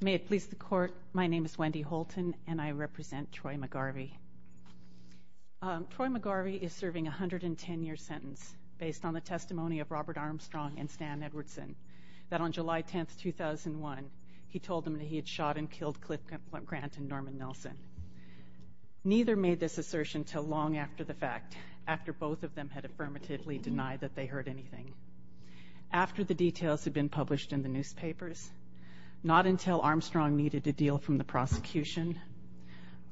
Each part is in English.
May it please the Court, my name is Wendy Holton and I represent Troy McGarvey. Troy McGarvey is serving a hundred and ten year sentence based on the testimony of Robert Armstrong and Stan Edwardson that on July 10th 2001 he told him that he had shot and killed Cliff Grant and Norman Nelson. Neither made this assertion till long after the fact, after both of them had affirmatively denied that they heard anything. After the details had been published in the newspapers, not until Armstrong needed to deal from the prosecution,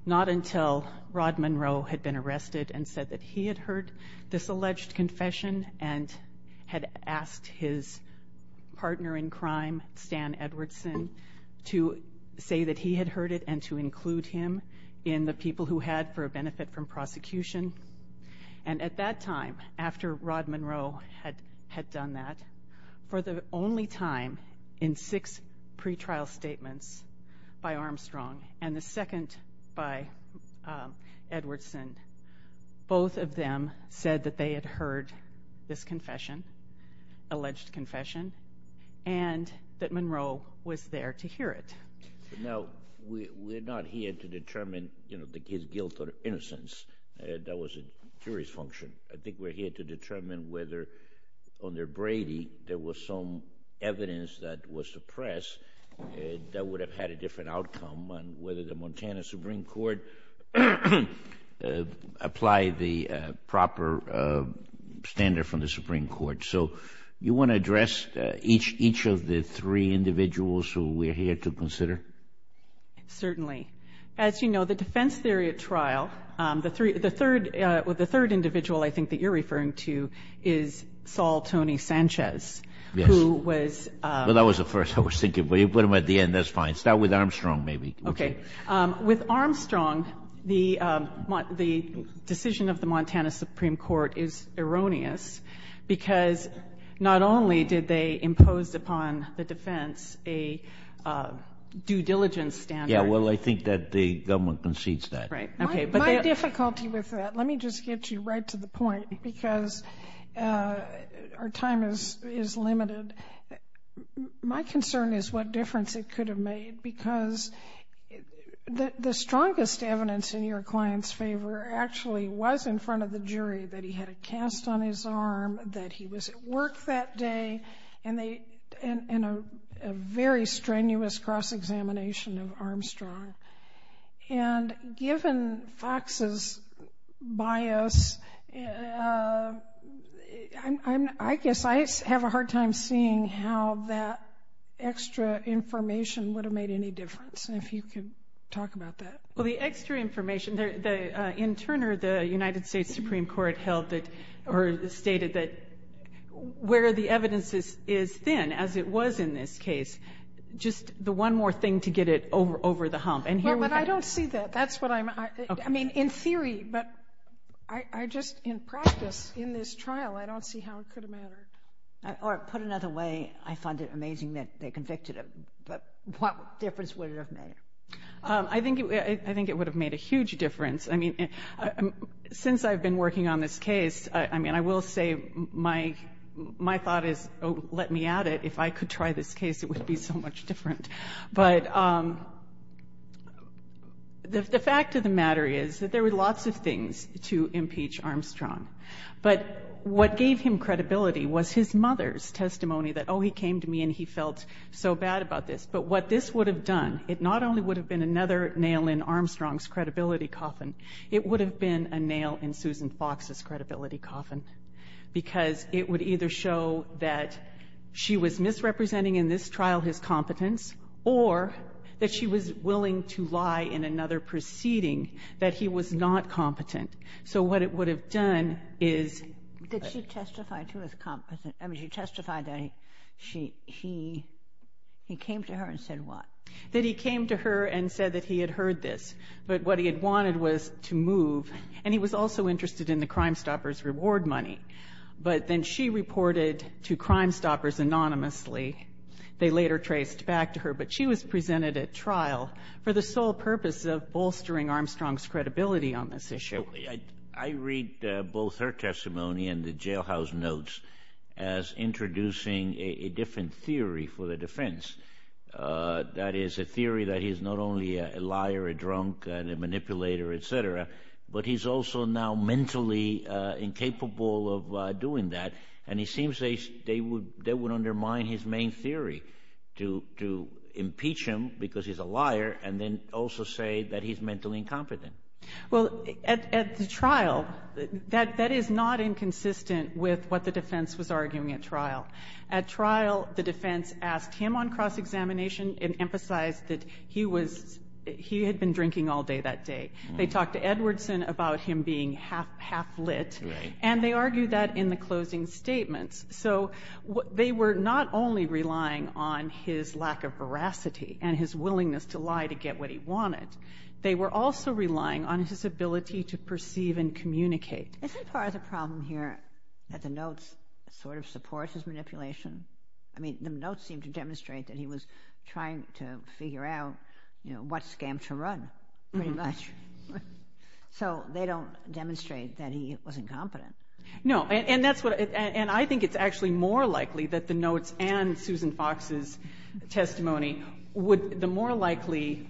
not until Rod Monroe had been arrested and said that he had heard this alleged confession and had asked his partner in crime Stan Edwardson to say that he had heard it and to include him in the people who had for a benefit from prosecution. And at that time after Rod Monroe had had done that for the only time in six pretrial statements by Armstrong and the second by Edwardson, both of them said that they had heard this confession, alleged confession, and that Monroe was there to hear it. Now we're not here to determine you know his guilt or innocence, that was a jury's function. I think we're here to determine evidence that was suppressed that would have had a different outcome on whether the Montana Supreme Court applied the proper standard from the Supreme Court. So you want to address each each of the three individuals who we're here to consider? Certainly. As you know the defense theory at trial, the three the third with the third individual I think that you're referring to is Saul Tony Sanchez. Yes. Who was. Well that was the first I was thinking but you put him at the end that's fine. Start with Armstrong maybe. Okay with Armstrong the the decision of the Montana Supreme Court is erroneous because not only did they impose upon the defense a due diligence standard. Yeah well I think that the government concedes that. Right. Okay. My difficulty with that, let me just get you right to the point because our time is is limited. My concern is what difference it could have made because the strongest evidence in your clients favor actually was in front of the jury that he had a cast on his arm, that he was at work that day, and a very strenuous cross examination of Armstrong. And given Fox's bias, I guess I have a hard time seeing how that extra information would have made any difference and if you can talk about that. Well the extra information there the in Turner the United States Supreme Court held that or stated that where the evidence is is thin as it was in this case just the one more thing to get it over over the hump. And here I don't see that that's what I mean in theory but I just in practice in this trial I don't see how it could have mattered. Or put another way I find it amazing that they convicted him but what difference would it have made? I think I think it would have made a huge difference I mean since I've been working on this case I mean I will say my my thought is oh let me at it if I could try this case it would be so much different. But the fact of the matter is that there were lots of things to impeach Armstrong but what gave him credibility was his mother's testimony that oh he came to me and he felt so bad about this but what this would have done it not only would have been another nail in Armstrong's credibility coffin it would have been a nail in Susan Fox's credibility coffin because it would either show that she was misrepresenting in this trial his competence or that she was willing to lie in another proceeding that he was not competent so what it would have done is. Did she testify to his competence? I mean she testified that he she he he came to her and said what? That he came to her and said that he had heard this but what he had wanted was to move and he was also interested in the Crimestoppers reward money but then she reported to Crimestoppers anonymously they later traced back to her but she was presented at trial for the sole purpose of bolstering Armstrong's credibility on this issue. I read both her testimony and the jailhouse notes as introducing a different theory for the defense that is a theory that he's not a liar a drunk and a manipulator etc but he's also now mentally incapable of doing that and he seems they they would they would undermine his main theory to to impeach him because he's a liar and then also say that he's mentally incompetent. Well at the trial that that is not inconsistent with what the defense was arguing at trial. At trial the defense asked him on cross-examination and emphasized that he was he had been drinking all day that day. They talked to Edwardson about him being half half lit and they argued that in the closing statements. So what they were not only relying on his lack of veracity and his willingness to lie to get what he wanted they were also relying on his ability to perceive and communicate. Isn't part of the problem here that the notes sort of supports his manipulation? I mean the notes seem to demonstrate that he was trying to figure out you know what scam to run pretty much. So they don't demonstrate that he wasn't competent. No and that's what and I think it's actually more likely that the notes and Susan Fox's testimony would the more likely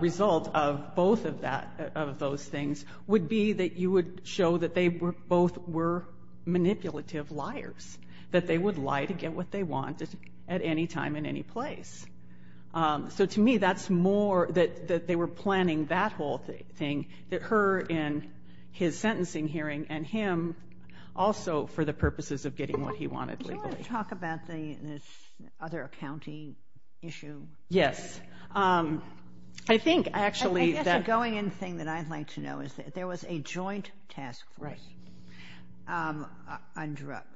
result of both of that of those things would be that you would show that they were both were manipulative liars. That they would lie to get what they wanted at any time in any place. So to me that's more that that they were planning that whole thing that her in his sentencing hearing and him also for the purposes of getting what he wanted legally. Do you want to talk about the other county issue? Yes. I think actually that going in thing that I'd like to know is that there was a joint task force on drugs.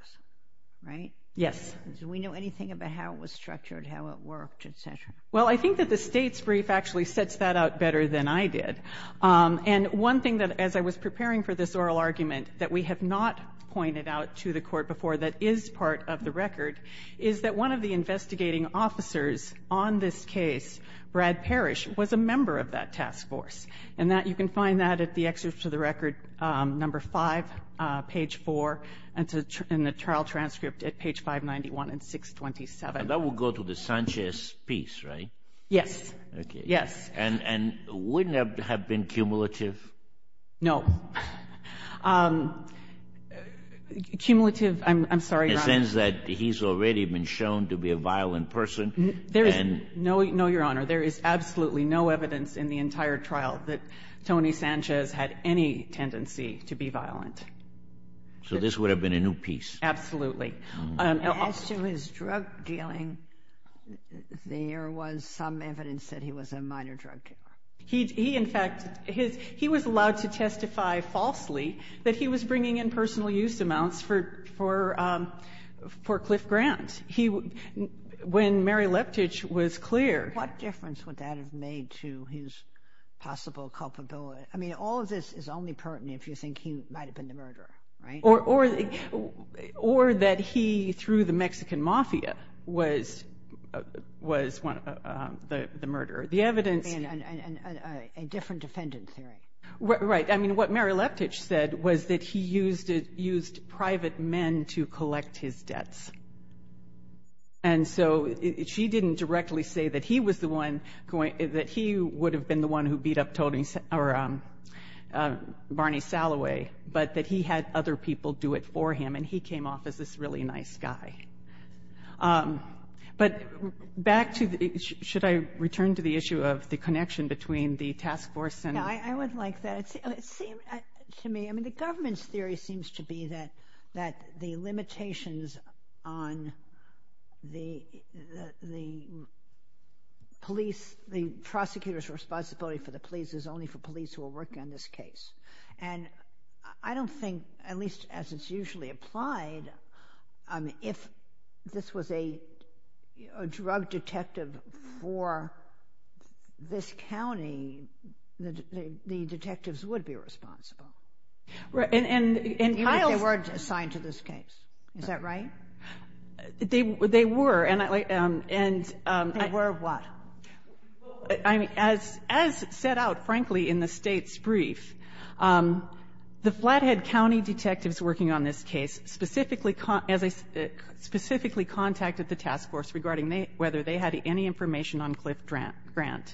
Right? Yes. Do we know anything about how it was structured? How it worked, etc.? Well I think that the state's brief actually sets that out better than I did. And one thing that as I was preparing for this oral argument that we have not pointed out to the court before that is part of the record is that one of the investigating officers on this case, Brad Parrish, was a member of that task force. And that you can find that at the excerpt of the record on our website. Number five, page four, and in the trial transcript at page 591 and 627. That would go to the Sanchez piece, right? Yes. Okay. Yes. And wouldn't it have been cumulative? No. Cumulative, I'm sorry, Your Honor. In the sense that he's already been shown to be a violent person? There is no, Your Honor, there is absolutely no evidence in the entire trial that Tony Sanchez had any tendency to be violent. So this would have been a new piece? Absolutely. And as to his drug dealing, there was some evidence that he was a minor drug dealer. He, in fact, he was allowed to testify falsely that he was bringing in personal use amounts for Cliff Grant when Mary Leptich was clear. What difference would that have made to his possible culpability? I mean, all of this is only pertinent if you think about he might have been the murderer, right? Or that he, through the Mexican mafia, was the murderer. The evidence... A different defendant theory. Right. I mean, what Mary Leptich said was that he used private men to collect his debts. And so, she didn't directly say that he was the one, that he would have been the one who beat up Barney Salloway, but that he had other people do it for him, and he came off as this really nice guy. But back to the... Should I return to the issue of the connection between the task force and... Yeah, I would like that. It seems to me, I mean, the government's theory seems to be that the limitations on the police, the prosecutor's responsibility for the police is only for police who are working on this case. And I don't think, at least as it's usually applied, if this was a drug detective for this county, the detectives would be responsible. Even if they weren't assigned to this case. Is that right? They were. And I... They were what? As set out, frankly, in the State's brief, the Flathead County detectives working on this case specifically contacted the task force regarding whether they had any information on Cliff Grant.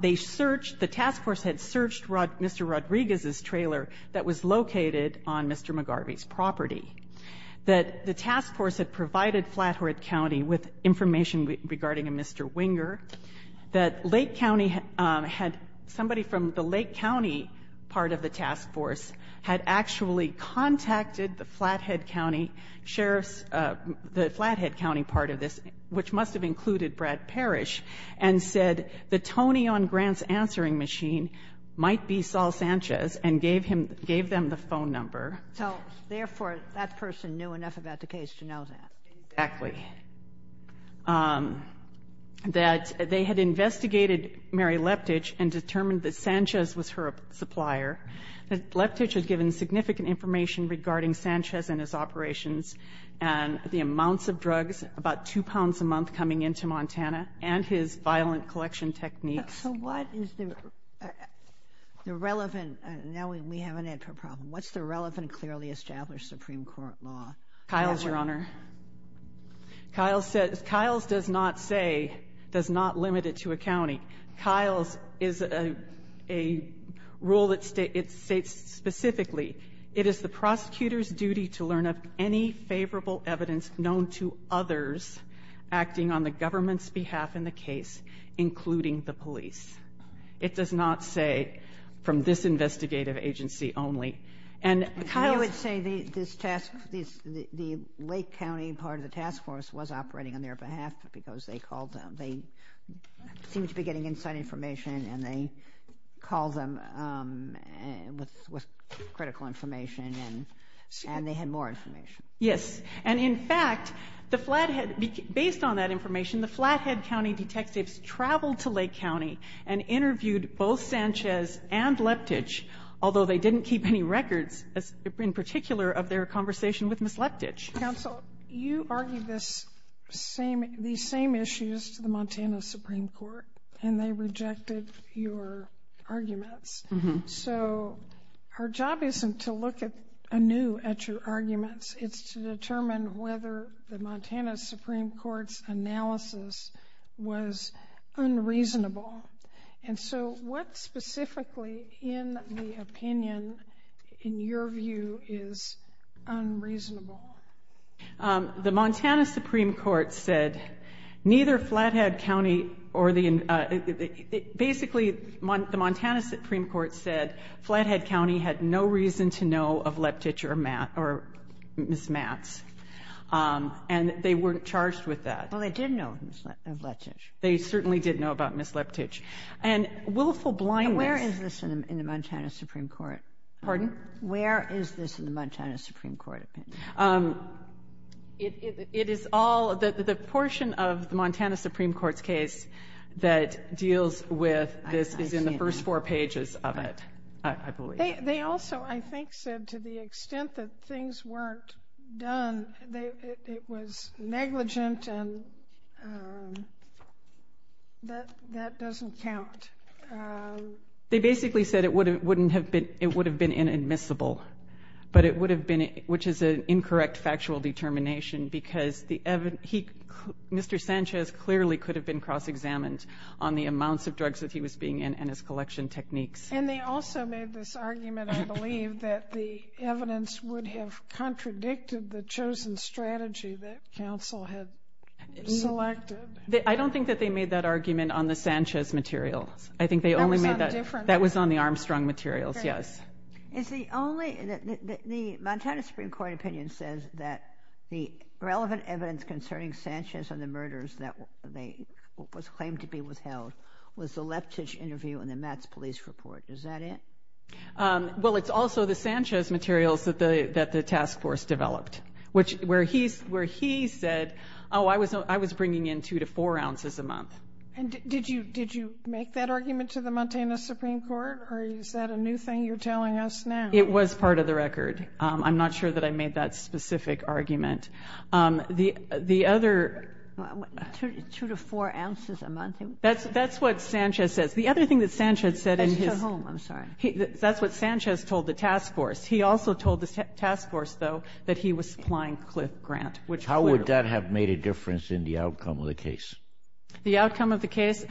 They searched, the task force had searched Mr. Rodriguez's trailer that was located on Mr. McGarvey's property. That the task force had provided Flathead County with information regarding a Mr. Winger. That Lake County had... Somebody from the Lake County part of the task force had actually contacted the Flathead County Sheriff's... The Flathead County part of this, which must have included Brad Parrish, and said the Tony on Grant's answering machine might be Saul Sanchez, and gave him... Gave them the phone number. So, therefore, that person knew enough about the case to know that. Exactly. That they had investigated Mary Leptich and determined that Sanchez was her supplier. Leptich had given significant information regarding Sanchez and his operations, and the amounts of drugs, about two pounds a month coming into Montana, and his violent collection techniques. So what is the relevant... Now we have an answer problem. What's the relevant clearly established Supreme Court law? Kyle's, Your Honor. Kyle's does not say, does not limit it to a county. Kyle's is a rule that states specifically, it is the prosecutor's duty to learn of any favorable evidence known to others acting on the government's behalf in the case, including the police. It does not say from this investigative agency only. Kyle would say this task, the Lake County part of the task force was operating on their behalf because they called them. They seemed to be getting inside information, and they called them with critical information, and they had more information. Yes. And in fact, the Flathead, based on that information, the Flathead County detectives traveled to Lake County and interviewed both Sanchez and Leptich, although they didn't keep any records in particular of their conversation with Ms. Leptich. Counsel, you argued these same issues to the Montana Supreme Court, and they rejected your arguments. So our job isn't to look anew at your arguments. It's to determine whether the Montana Supreme Court's analysis was unreasonable. And so what specifically, in the opinion, in your view, is unreasonable? The Montana Supreme Court said neither Flathead County or the, basically, the Montana Supreme Court said Flathead County had no reason to know of Leptich or Ms. Matz. And they weren't charged with that. Well, they did know of Leptich. They certainly did know about Ms. Leptich. And willful blindness. Where is this in the Montana Supreme Court? Pardon? Where is this in the Montana Supreme Court opinion? It is all, the portion of the Montana Supreme Court's case that deals with this is in the first four pages of it, I believe. They also, I think, said to the extent that things weren't done, it was negligent and that doesn't count. They basically said it would have been inadmissible, which is an incorrect factual determination, because Mr. Sanchez clearly could have been cross-examined on the amounts of drugs that he was being in and his collection techniques. And they also made this argument, I believe, that the evidence would have contradicted the chosen strategy that counsel had selected. I don't think that they made that argument on the Sanchez materials. I think they only made that, that was on the Armstrong materials, yes. It's the only, the Montana Supreme Court opinion says that the relevant evidence concerning Sanchez and the murders that was claimed to be withheld was the Leptich interview and the Mets police report. Is that it? Well, it's also the Sanchez materials that the task force developed. Which, where he said, oh, I was bringing in two to four ounces a month. And did you make that argument to the Montana Supreme Court? Or is that a new thing you're telling us now? It was part of the record. I'm not sure that I made that specific argument. The other... Two to four ounces a month? That's what Sanchez says. The other thing that Sanchez said in his... That's what Sanchez told the task force. He also told the task force, though, that he was supplying Cliff Grant, which... How would that have made a difference in the outcome of the case? The outcome of the case?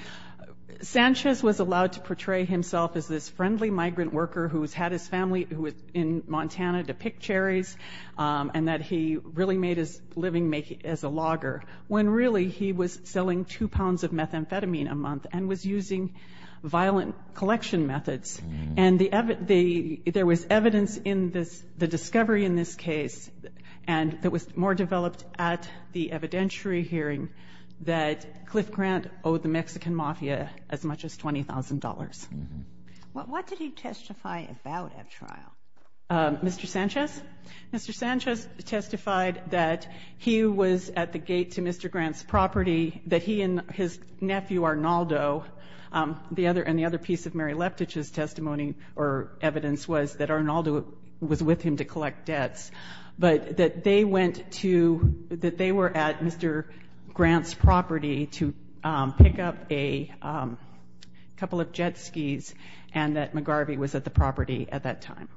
Sanchez was allowed to portray himself as this friendly migrant worker who's had his family, who was in Montana, to pick cherries. And that he really made his living making, as a logger. When really, he was selling two pounds of methamphetamine a month and was using violent collection methods. And there was evidence in this, the discovery in this case, and that was more developed at the evidentiary hearing, that Cliff Grant owed the Mexican Mafia as much as $20,000. What did he testify about at trial? Mr. Sanchez? Mr. Sanchez testified that he was at the gate to Mr. Grant's property, that he and his nephew, Arnaldo, and the other piece of Mary Leftich's testimony or evidence was that Arnaldo was with him to collect debts. But that they went to... That they were at Mr. Grant's property to pick up a couple of jet skis, and that McGarvey was at the property at that time.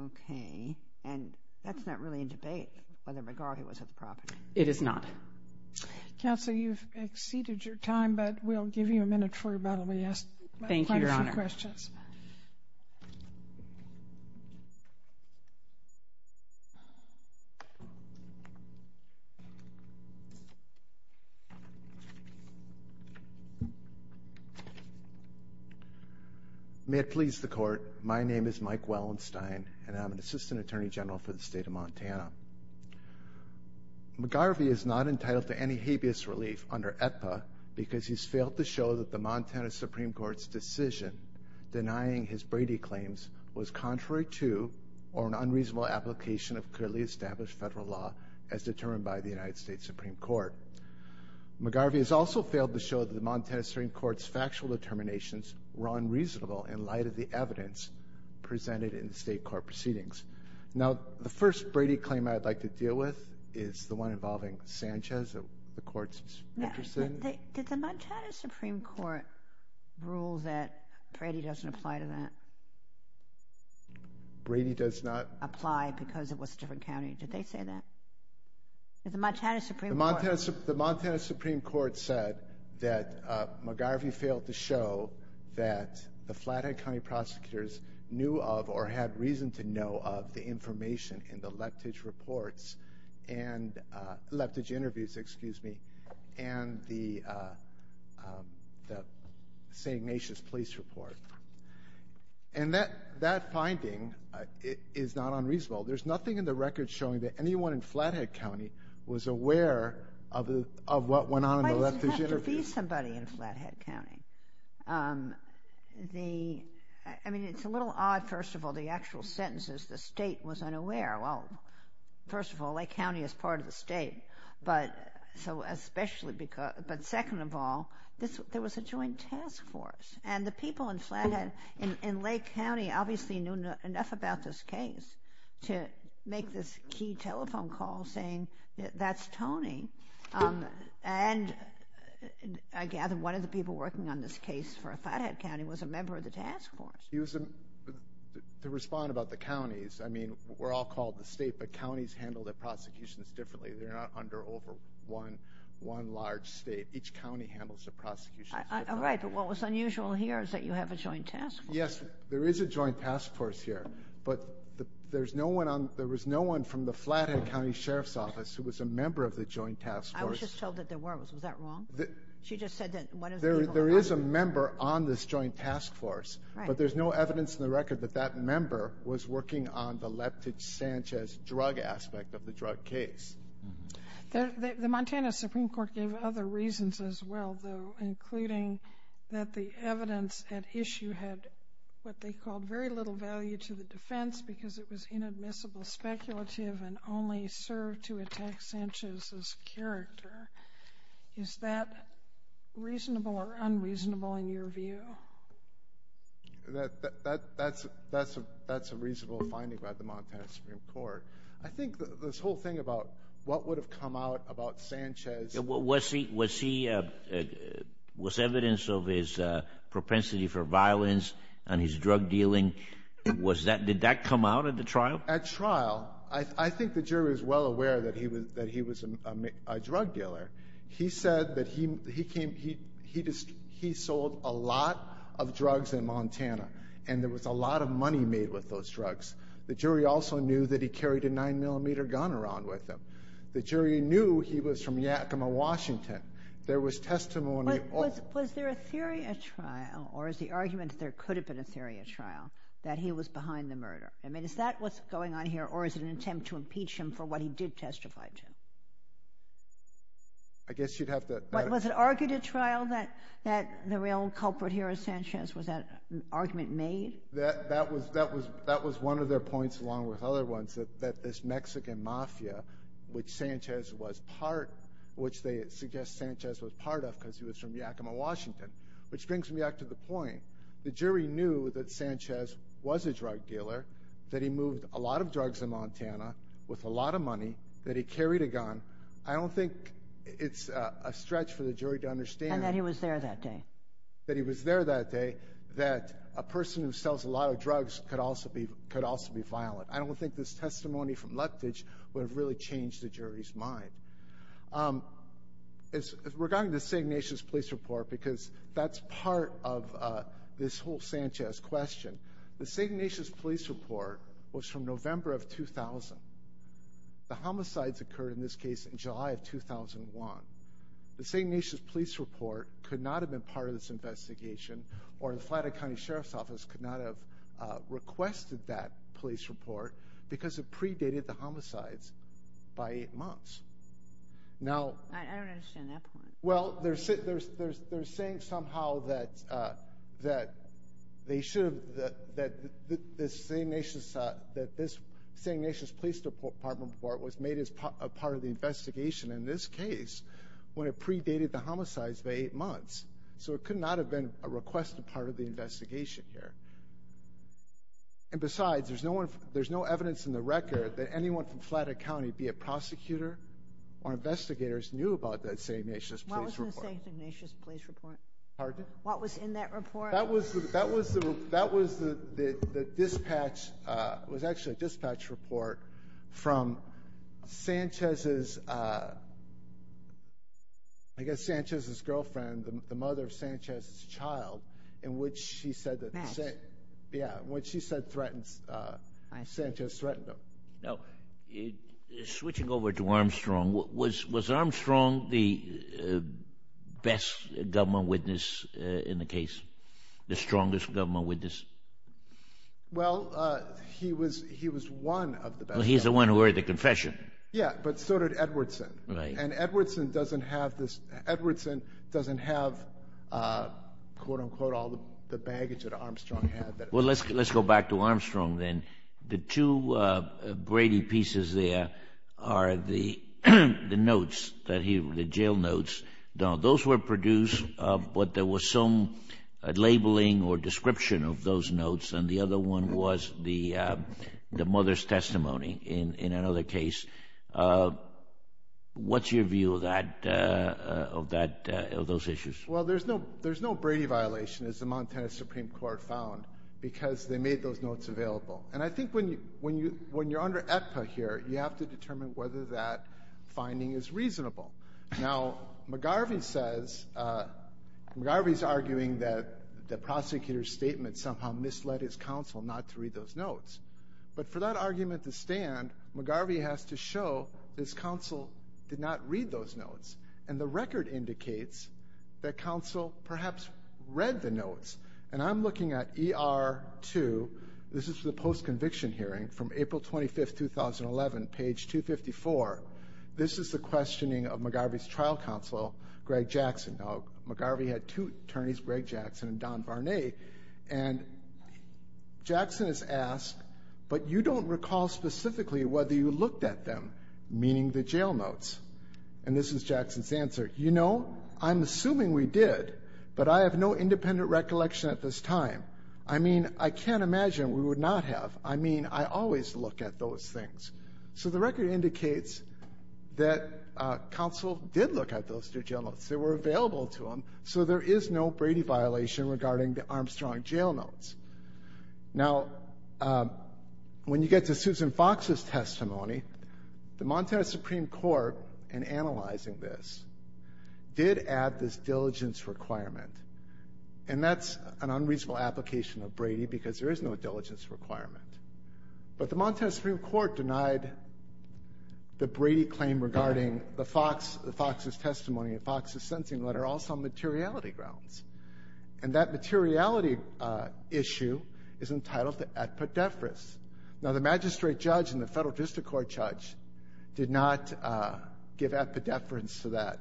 Okay. And that's not really in debate, whether McGarvey was at the property. It is not. Counsel, you've exceeded your time, but we'll give you a minute for about a few questions. Thank you, Your Honor. May it please the Court, my name is Mike Wellenstein, and I'm an Assistant Attorney General for the State of Montana. McGarvey is not entitled to any habeas relief under AETPA because he's failed to show that the Montana Supreme Court's decision denying his Brady claims was contrary to or an unreasonable application of clearly established federal law as determined by the United States Supreme Court. McGarvey has also failed to show that the Montana Supreme Court's factual determinations were unreasonable in light of the evidence presented in the state court proceedings. Now, the first Brady claim I'd like to deal with is the one involving Sanchez that the Court's interested in. Did the Montana Supreme Court rule that Brady doesn't apply to that? Brady does not... Apply because it was a different county. Did they say that? Did the Montana Supreme Court... The Montana Supreme Court said that McGarvey failed to show that the Flathead County prosecutors knew of or had reason to know of the information in the left-edge reports and left-edge interviews, excuse me, and the St. Ignatius Police Report. And that finding is not unreasonable. There's nothing in the record showing that anyone in Flathead County was aware of what went on in the left-edge interviews. Why does it have to be somebody in Flathead County? I mean, it's a little odd, first of all, the actual sentences. The state was unaware. Well, first of all, Lake County is part of the state. But second of all, there was a joint task force. And the people in Flathead, in Lake County, obviously knew enough about this case to make this key telephone call saying, that's Tony. And I gather one of the people working on this case for Flathead County was a member of the task force. To respond about the counties, I mean, we're all called the state, but counties handle their prosecutions differently. They're not under one large state. Each county handles their prosecutions differently. Right, but what was unusual here is that you have a joint task force. Yes, there is a joint task force here. But there was no one from the Flathead County Sheriff's Office who was a member of the joint task force. I was just told that there was. Was that wrong? She just said that one of the people on this case. There is a member on this joint task force. But there's no evidence in the record that that member was working on the Leptich-Sanchez drug aspect of the drug case. The Montana Supreme Court gave other reasons as well, though, including that the evidence at issue had what they called very little value to the defense because it was inadmissible, speculative, and only served to attack Sanchez's character. Is that reasonable or unreasonable in your view? That's a reasonable finding by the Montana Supreme Court. I think this whole thing about what would have come out about Sanchez. Was evidence of his propensity for violence and his drug dealing, did that come out at the trial? At trial, I think the jury was well aware that he was a drug dealer. He said that he sold a lot of drugs in Montana, and there was a lot of money made with those drugs. The jury also knew that he carried a 9mm gun around with him. The jury knew he was from Yakima, Washington. There was testimony. Was there a theory at trial, or is the argument that there could have been a theory at trial, that he was behind the murder? Is that what's going on here, or is it an attempt to impeach him for what he did testify to? Was it argued at trial that the real culprit here is Sanchez? Was that an argument made? That was one of their points along with other ones, that this Mexican mafia, which Sanchez was part of, which they suggest Sanchez was part of because he was from Yakima, Washington, which brings me back to the point. The jury knew that Sanchez was a drug dealer, that he moved a lot of drugs in Montana with a lot of money, that he carried a gun. I don't think it's a stretch for the jury to understand. And that he was there that day. That he was there that day, that a person who sells a lot of drugs could also be violent. I don't think this testimony from Lethbridge would have really changed the jury's mind. Regarding the St. Ignatius Police Report, because that's part of this whole Sanchez question, the St. Ignatius Police Report was from November of 2000. The homicides occurred in this case in July of 2001. The St. Ignatius Police Report could not have been part of this investigation, or the Flatter County Sheriff's Office could not have requested that police report because it predated the homicides by eight months. I don't understand that point. Well, they're saying somehow that this St. Ignatius Police Report was made as part of the investigation in this case when it predated the homicides by eight months. So it could not have been a requested part of the investigation here. And besides, there's no evidence in the record that anyone from Flatter County, be it prosecutor or investigators, knew about that St. Ignatius Police Report. What was in the St. Ignatius Police Report? Pardon? What was in that report? That was the dispatch report from Sanchez's girlfriend, the mother of Sanchez's child, in which she said that Sanchez threatened them. Now, switching over to Armstrong, was Armstrong the best government witness in the case, the strongest government witness? Well, he was one of the best. Well, he's the one who wrote the confession. Yeah, but so did Edwardson. And Edwardson doesn't have, quote-unquote, all the baggage that Armstrong had. Well, let's go back to Armstrong then. The two Brady pieces there are the notes, the jail notes. Now, those were produced, but there was some labeling or description of those notes, and the other one was the mother's testimony in another case. What's your view of those issues? Well, there's no Brady violation, as the Montana Supreme Court found, because they made those notes available. And I think when you're under EPPA here, you have to determine whether that finding is reasonable. Now, McGarvey's arguing that the prosecutor's statement somehow misled his counsel not to read those notes. But for that argument to stand, McGarvey has to show his counsel did not read those notes, and the record indicates that counsel perhaps read the notes. And I'm looking at ER-2. This is the post-conviction hearing from April 25, 2011, page 254. This is the questioning of McGarvey's trial counsel, Greg Jackson. Now, McGarvey had two attorneys, Greg Jackson and Don Barnett, and Jackson is asked, but you don't recall specifically whether you looked at them, meaning the jail notes. And this is Jackson's answer. You know, I'm assuming we did, but I have no independent recollection at this time. I mean, I can't imagine we would not have. I mean, I always look at those things. So the record indicates that counsel did look at those two jail notes. They were available to him. So there is no Brady violation regarding the Armstrong jail notes. Now, when you get to Susan Fox's testimony, the Montana Supreme Court, in analyzing this, did add this diligence requirement. And that's an unreasonable application of Brady because there is no diligence requirement. But the Montana Supreme Court denied the Brady claim regarding the Fox's testimony and Fox's sentencing letter also on materiality grounds. And that materiality issue is entitled to ad pedephris. Now, the magistrate judge and the federal district court judge did not give ad pedephris to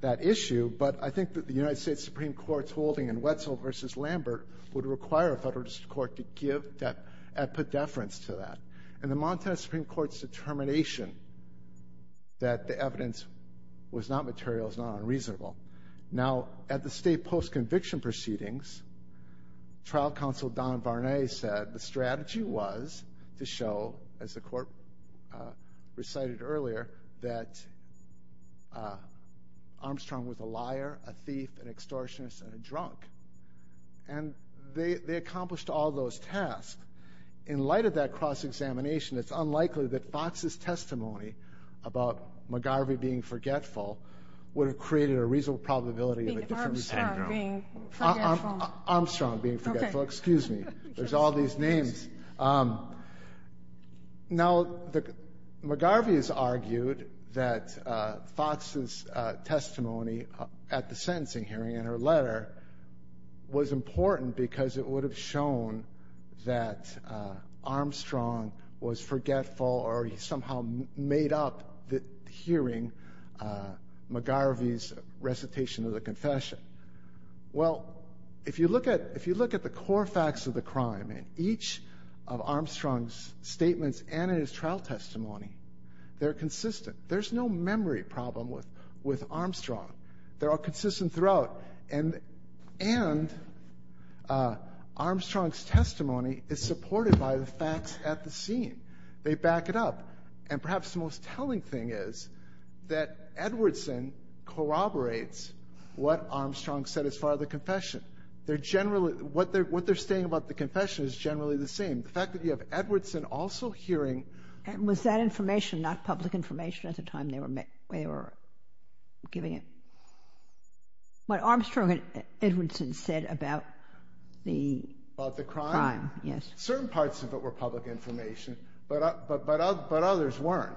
that issue. But I think that the United States Supreme Court's holding in Wetzel v. Lambert would require a federal district court to give that ad pedephris to that. And the Montana Supreme Court's determination that the evidence was not material is not unreasonable. Now, at the state post-conviction proceedings, trial counsel Don Varney said the strategy was to show, as the court recited earlier, that Armstrong was a liar, a thief, an extortionist, and a drunk. And they accomplished all those tasks. In light of that cross-examination, it's unlikely that Fox's testimony about McGarvey being forgetful would have created a reasonable probability of a different syndrome. Armstrong being forgetful. Armstrong being forgetful. Okay. Excuse me. There's all these names. Now, McGarvey has argued that Fox's testimony at the sentencing hearing in her letter was important because it would have shown that Armstrong was forgetful or he somehow made up hearing McGarvey's recitation of the confession. Well, if you look at the core facts of the crime in each of Armstrong's statements and in his trial testimony, they're consistent. There's no memory problem with Armstrong. They're all consistent throughout. And Armstrong's testimony is supported by the facts at the scene. They back it up. And perhaps the most telling thing is that Edwardson corroborates what Armstrong said as far as the confession. What they're saying about the confession is generally the same. The fact that you have Edwardson also hearing ---- And was that information not public information at the time they were giving him, what Armstrong and Edwardson said about the crime? About the crime? Yes. Certain parts of it were public information, but others weren't.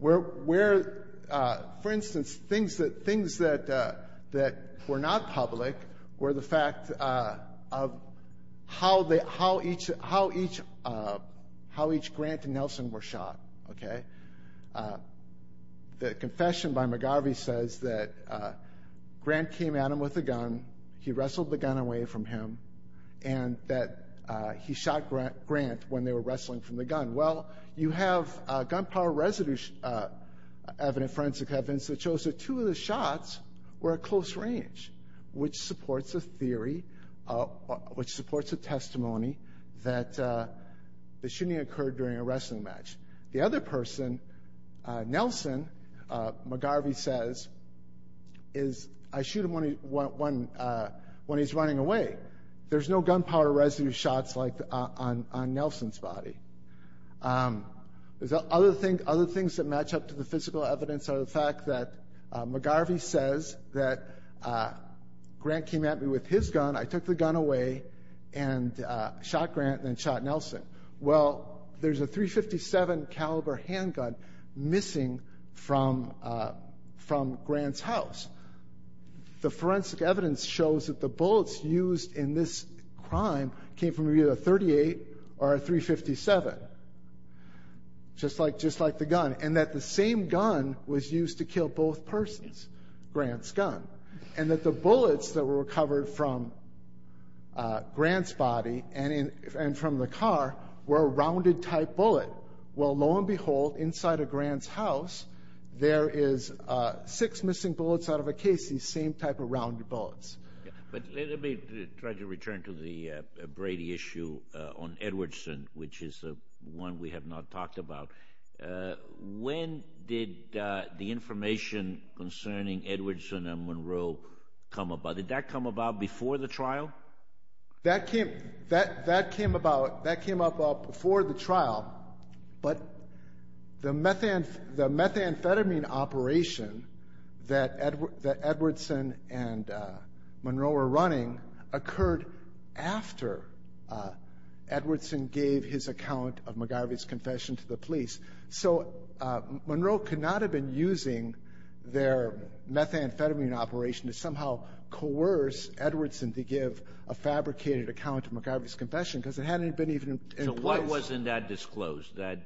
For instance, things that were not public were the fact of how each Grant and Nelson were shot. Okay? The confession by McGarvey says that Grant came at him with a gun. He wrestled the gun away from him and that he shot Grant when they were wrestling from the gun. Well, you have gunpowder residue evidence, forensic evidence, that shows that two of the shots were at close range, which supports a theory, which supports a testimony that the shooting occurred during a wrestling match. The other person, Nelson, McGarvey says, is, I shoot him when he's running away. There's no gunpowder residue shots on Nelson's body. Other things that match up to the physical evidence are the fact that McGarvey says that Grant came at me with his gun, I took the gun away and shot Grant and then shot Nelson. Well, there's a .357 caliber handgun missing from Grant's house. The forensic evidence shows that the bullets used in this crime came from either a .38 or a .357, just like the gun, and that the same gun was used to kill both persons, Grant's gun, and that the bullets that were recovered from Grant's body and from the car were a rounded-type bullet. Well, lo and behold, inside of Grant's house, there is six missing bullets out of a case, these same type of rounded bullets. But let me try to return to the Brady issue on Edwardson, which is one we have not talked about. When did the information concerning Edwardson and Monroe come about? Did that come about before the trial? That came about before the trial, but the methamphetamine operation that Edwardson and Monroe were running occurred after Edwardson gave his account of McGarvey's confession to the police. So Monroe could not have been using their methamphetamine operation to somehow coerce Edwardson to give a fabricated account of McGarvey's confession because it hadn't been even in place. So why wasn't that disclosed, the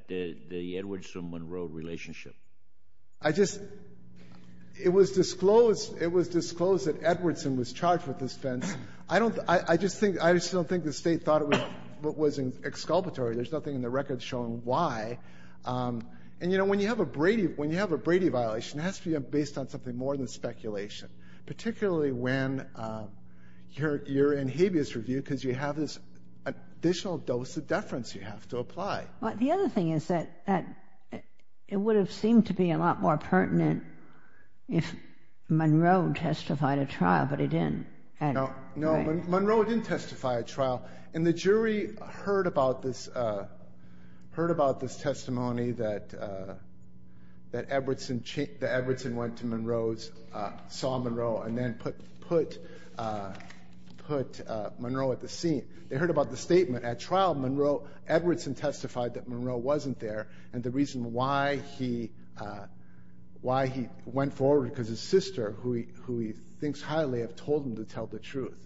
Edwardson-Monroe relationship? I just, it was disclosed, it was disclosed that Edwardson was charged with this offense. I don't, I just think, I just don't think the State thought it was exculpatory. There's nothing in the record showing why. And, you know, when you have a Brady, when you have a Brady violation, it has to be based on something more than speculation, particularly when you're in habeas review because you have this additional dose of deference you have to apply. The other thing is that it would have seemed to be a lot more pertinent if Monroe testified at trial, but he didn't. No, Monroe didn't testify at trial. And the jury heard about this testimony that Edwardson, that Edwardson went to Monroe's, saw Monroe, and then put Monroe at the scene. They heard about the statement at trial. Monroe, Edwardson testified that Monroe wasn't there, and the reason why he went forward because his sister, who he thinks highly of, told him to tell the truth.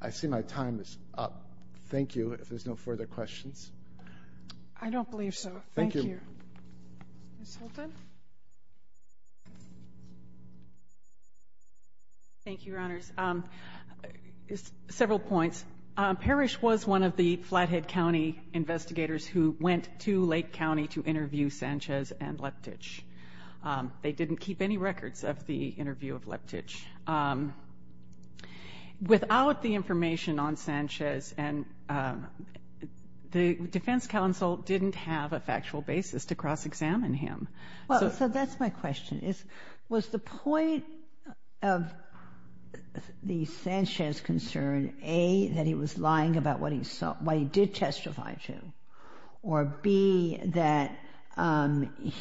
I see my time is up. Thank you. If there's no further questions. I don't believe so. Thank you. Ms. Holton. Thank you, Your Honors. Several points. Parrish was one of the Flathead County investigators who went to Lake County to interview Sanchez and Leptich. They didn't keep any records of the interview of Leptich. Without the information on Sanchez, the defense counsel didn't have a factual basis to cross-examine him. So that's my question. Was the point of the Sanchez concern, A, that he was lying about what he did testify to, or, B, that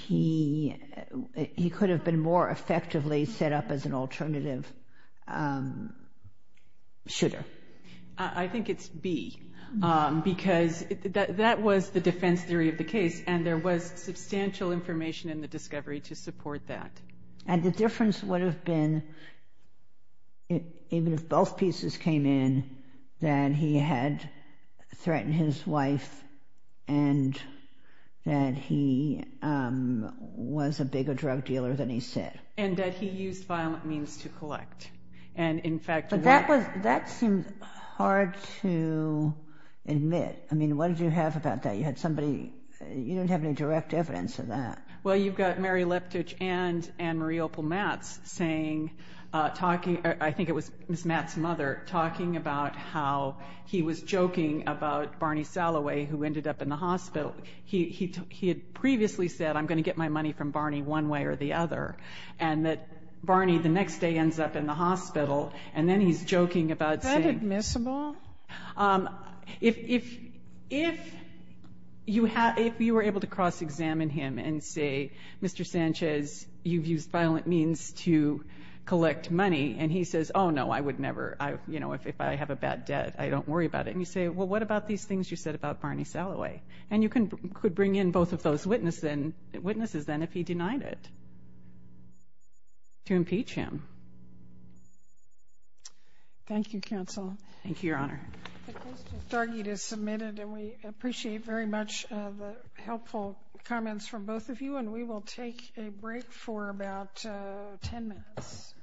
he could have been more effectively set up as an alternative shooter? I think it's B, because that was the defense theory of the case, and there was substantial information in the discovery to support that. And the difference would have been, even if both pieces came in, that he had threatened his wife and that he was a bigger drug dealer than he said. And that he used violent means to collect. But that seemed hard to admit. I mean, what did you have about that? You had somebody, you don't have any direct evidence of that. Well, you've got Mary Leptich and Marie Opal Matz saying, talking, I think it was Ms. Matz's mother, talking about how he was joking about Barney Salloway, who ended up in the hospital. He had previously said, I'm going to get my money from Barney one way or the other, and that Barney the next day ends up in the hospital, and then he's joking about saying. Is that admissible? If you were able to cross-examine him and say, Mr. Sanchez, you've used violent means to collect money, and he says, oh, no, I would never, you know, if I have a bad debt, I don't worry about it. And you say, well, what about these things you said about Barney Salloway? And you could bring in both of those witnesses, then, if he denied it, to impeach him. Thank you, counsel. Thank you, Your Honor. The question is submitted, and we appreciate very much the helpful comments from both of you, and we will take a break for about 10 minutes.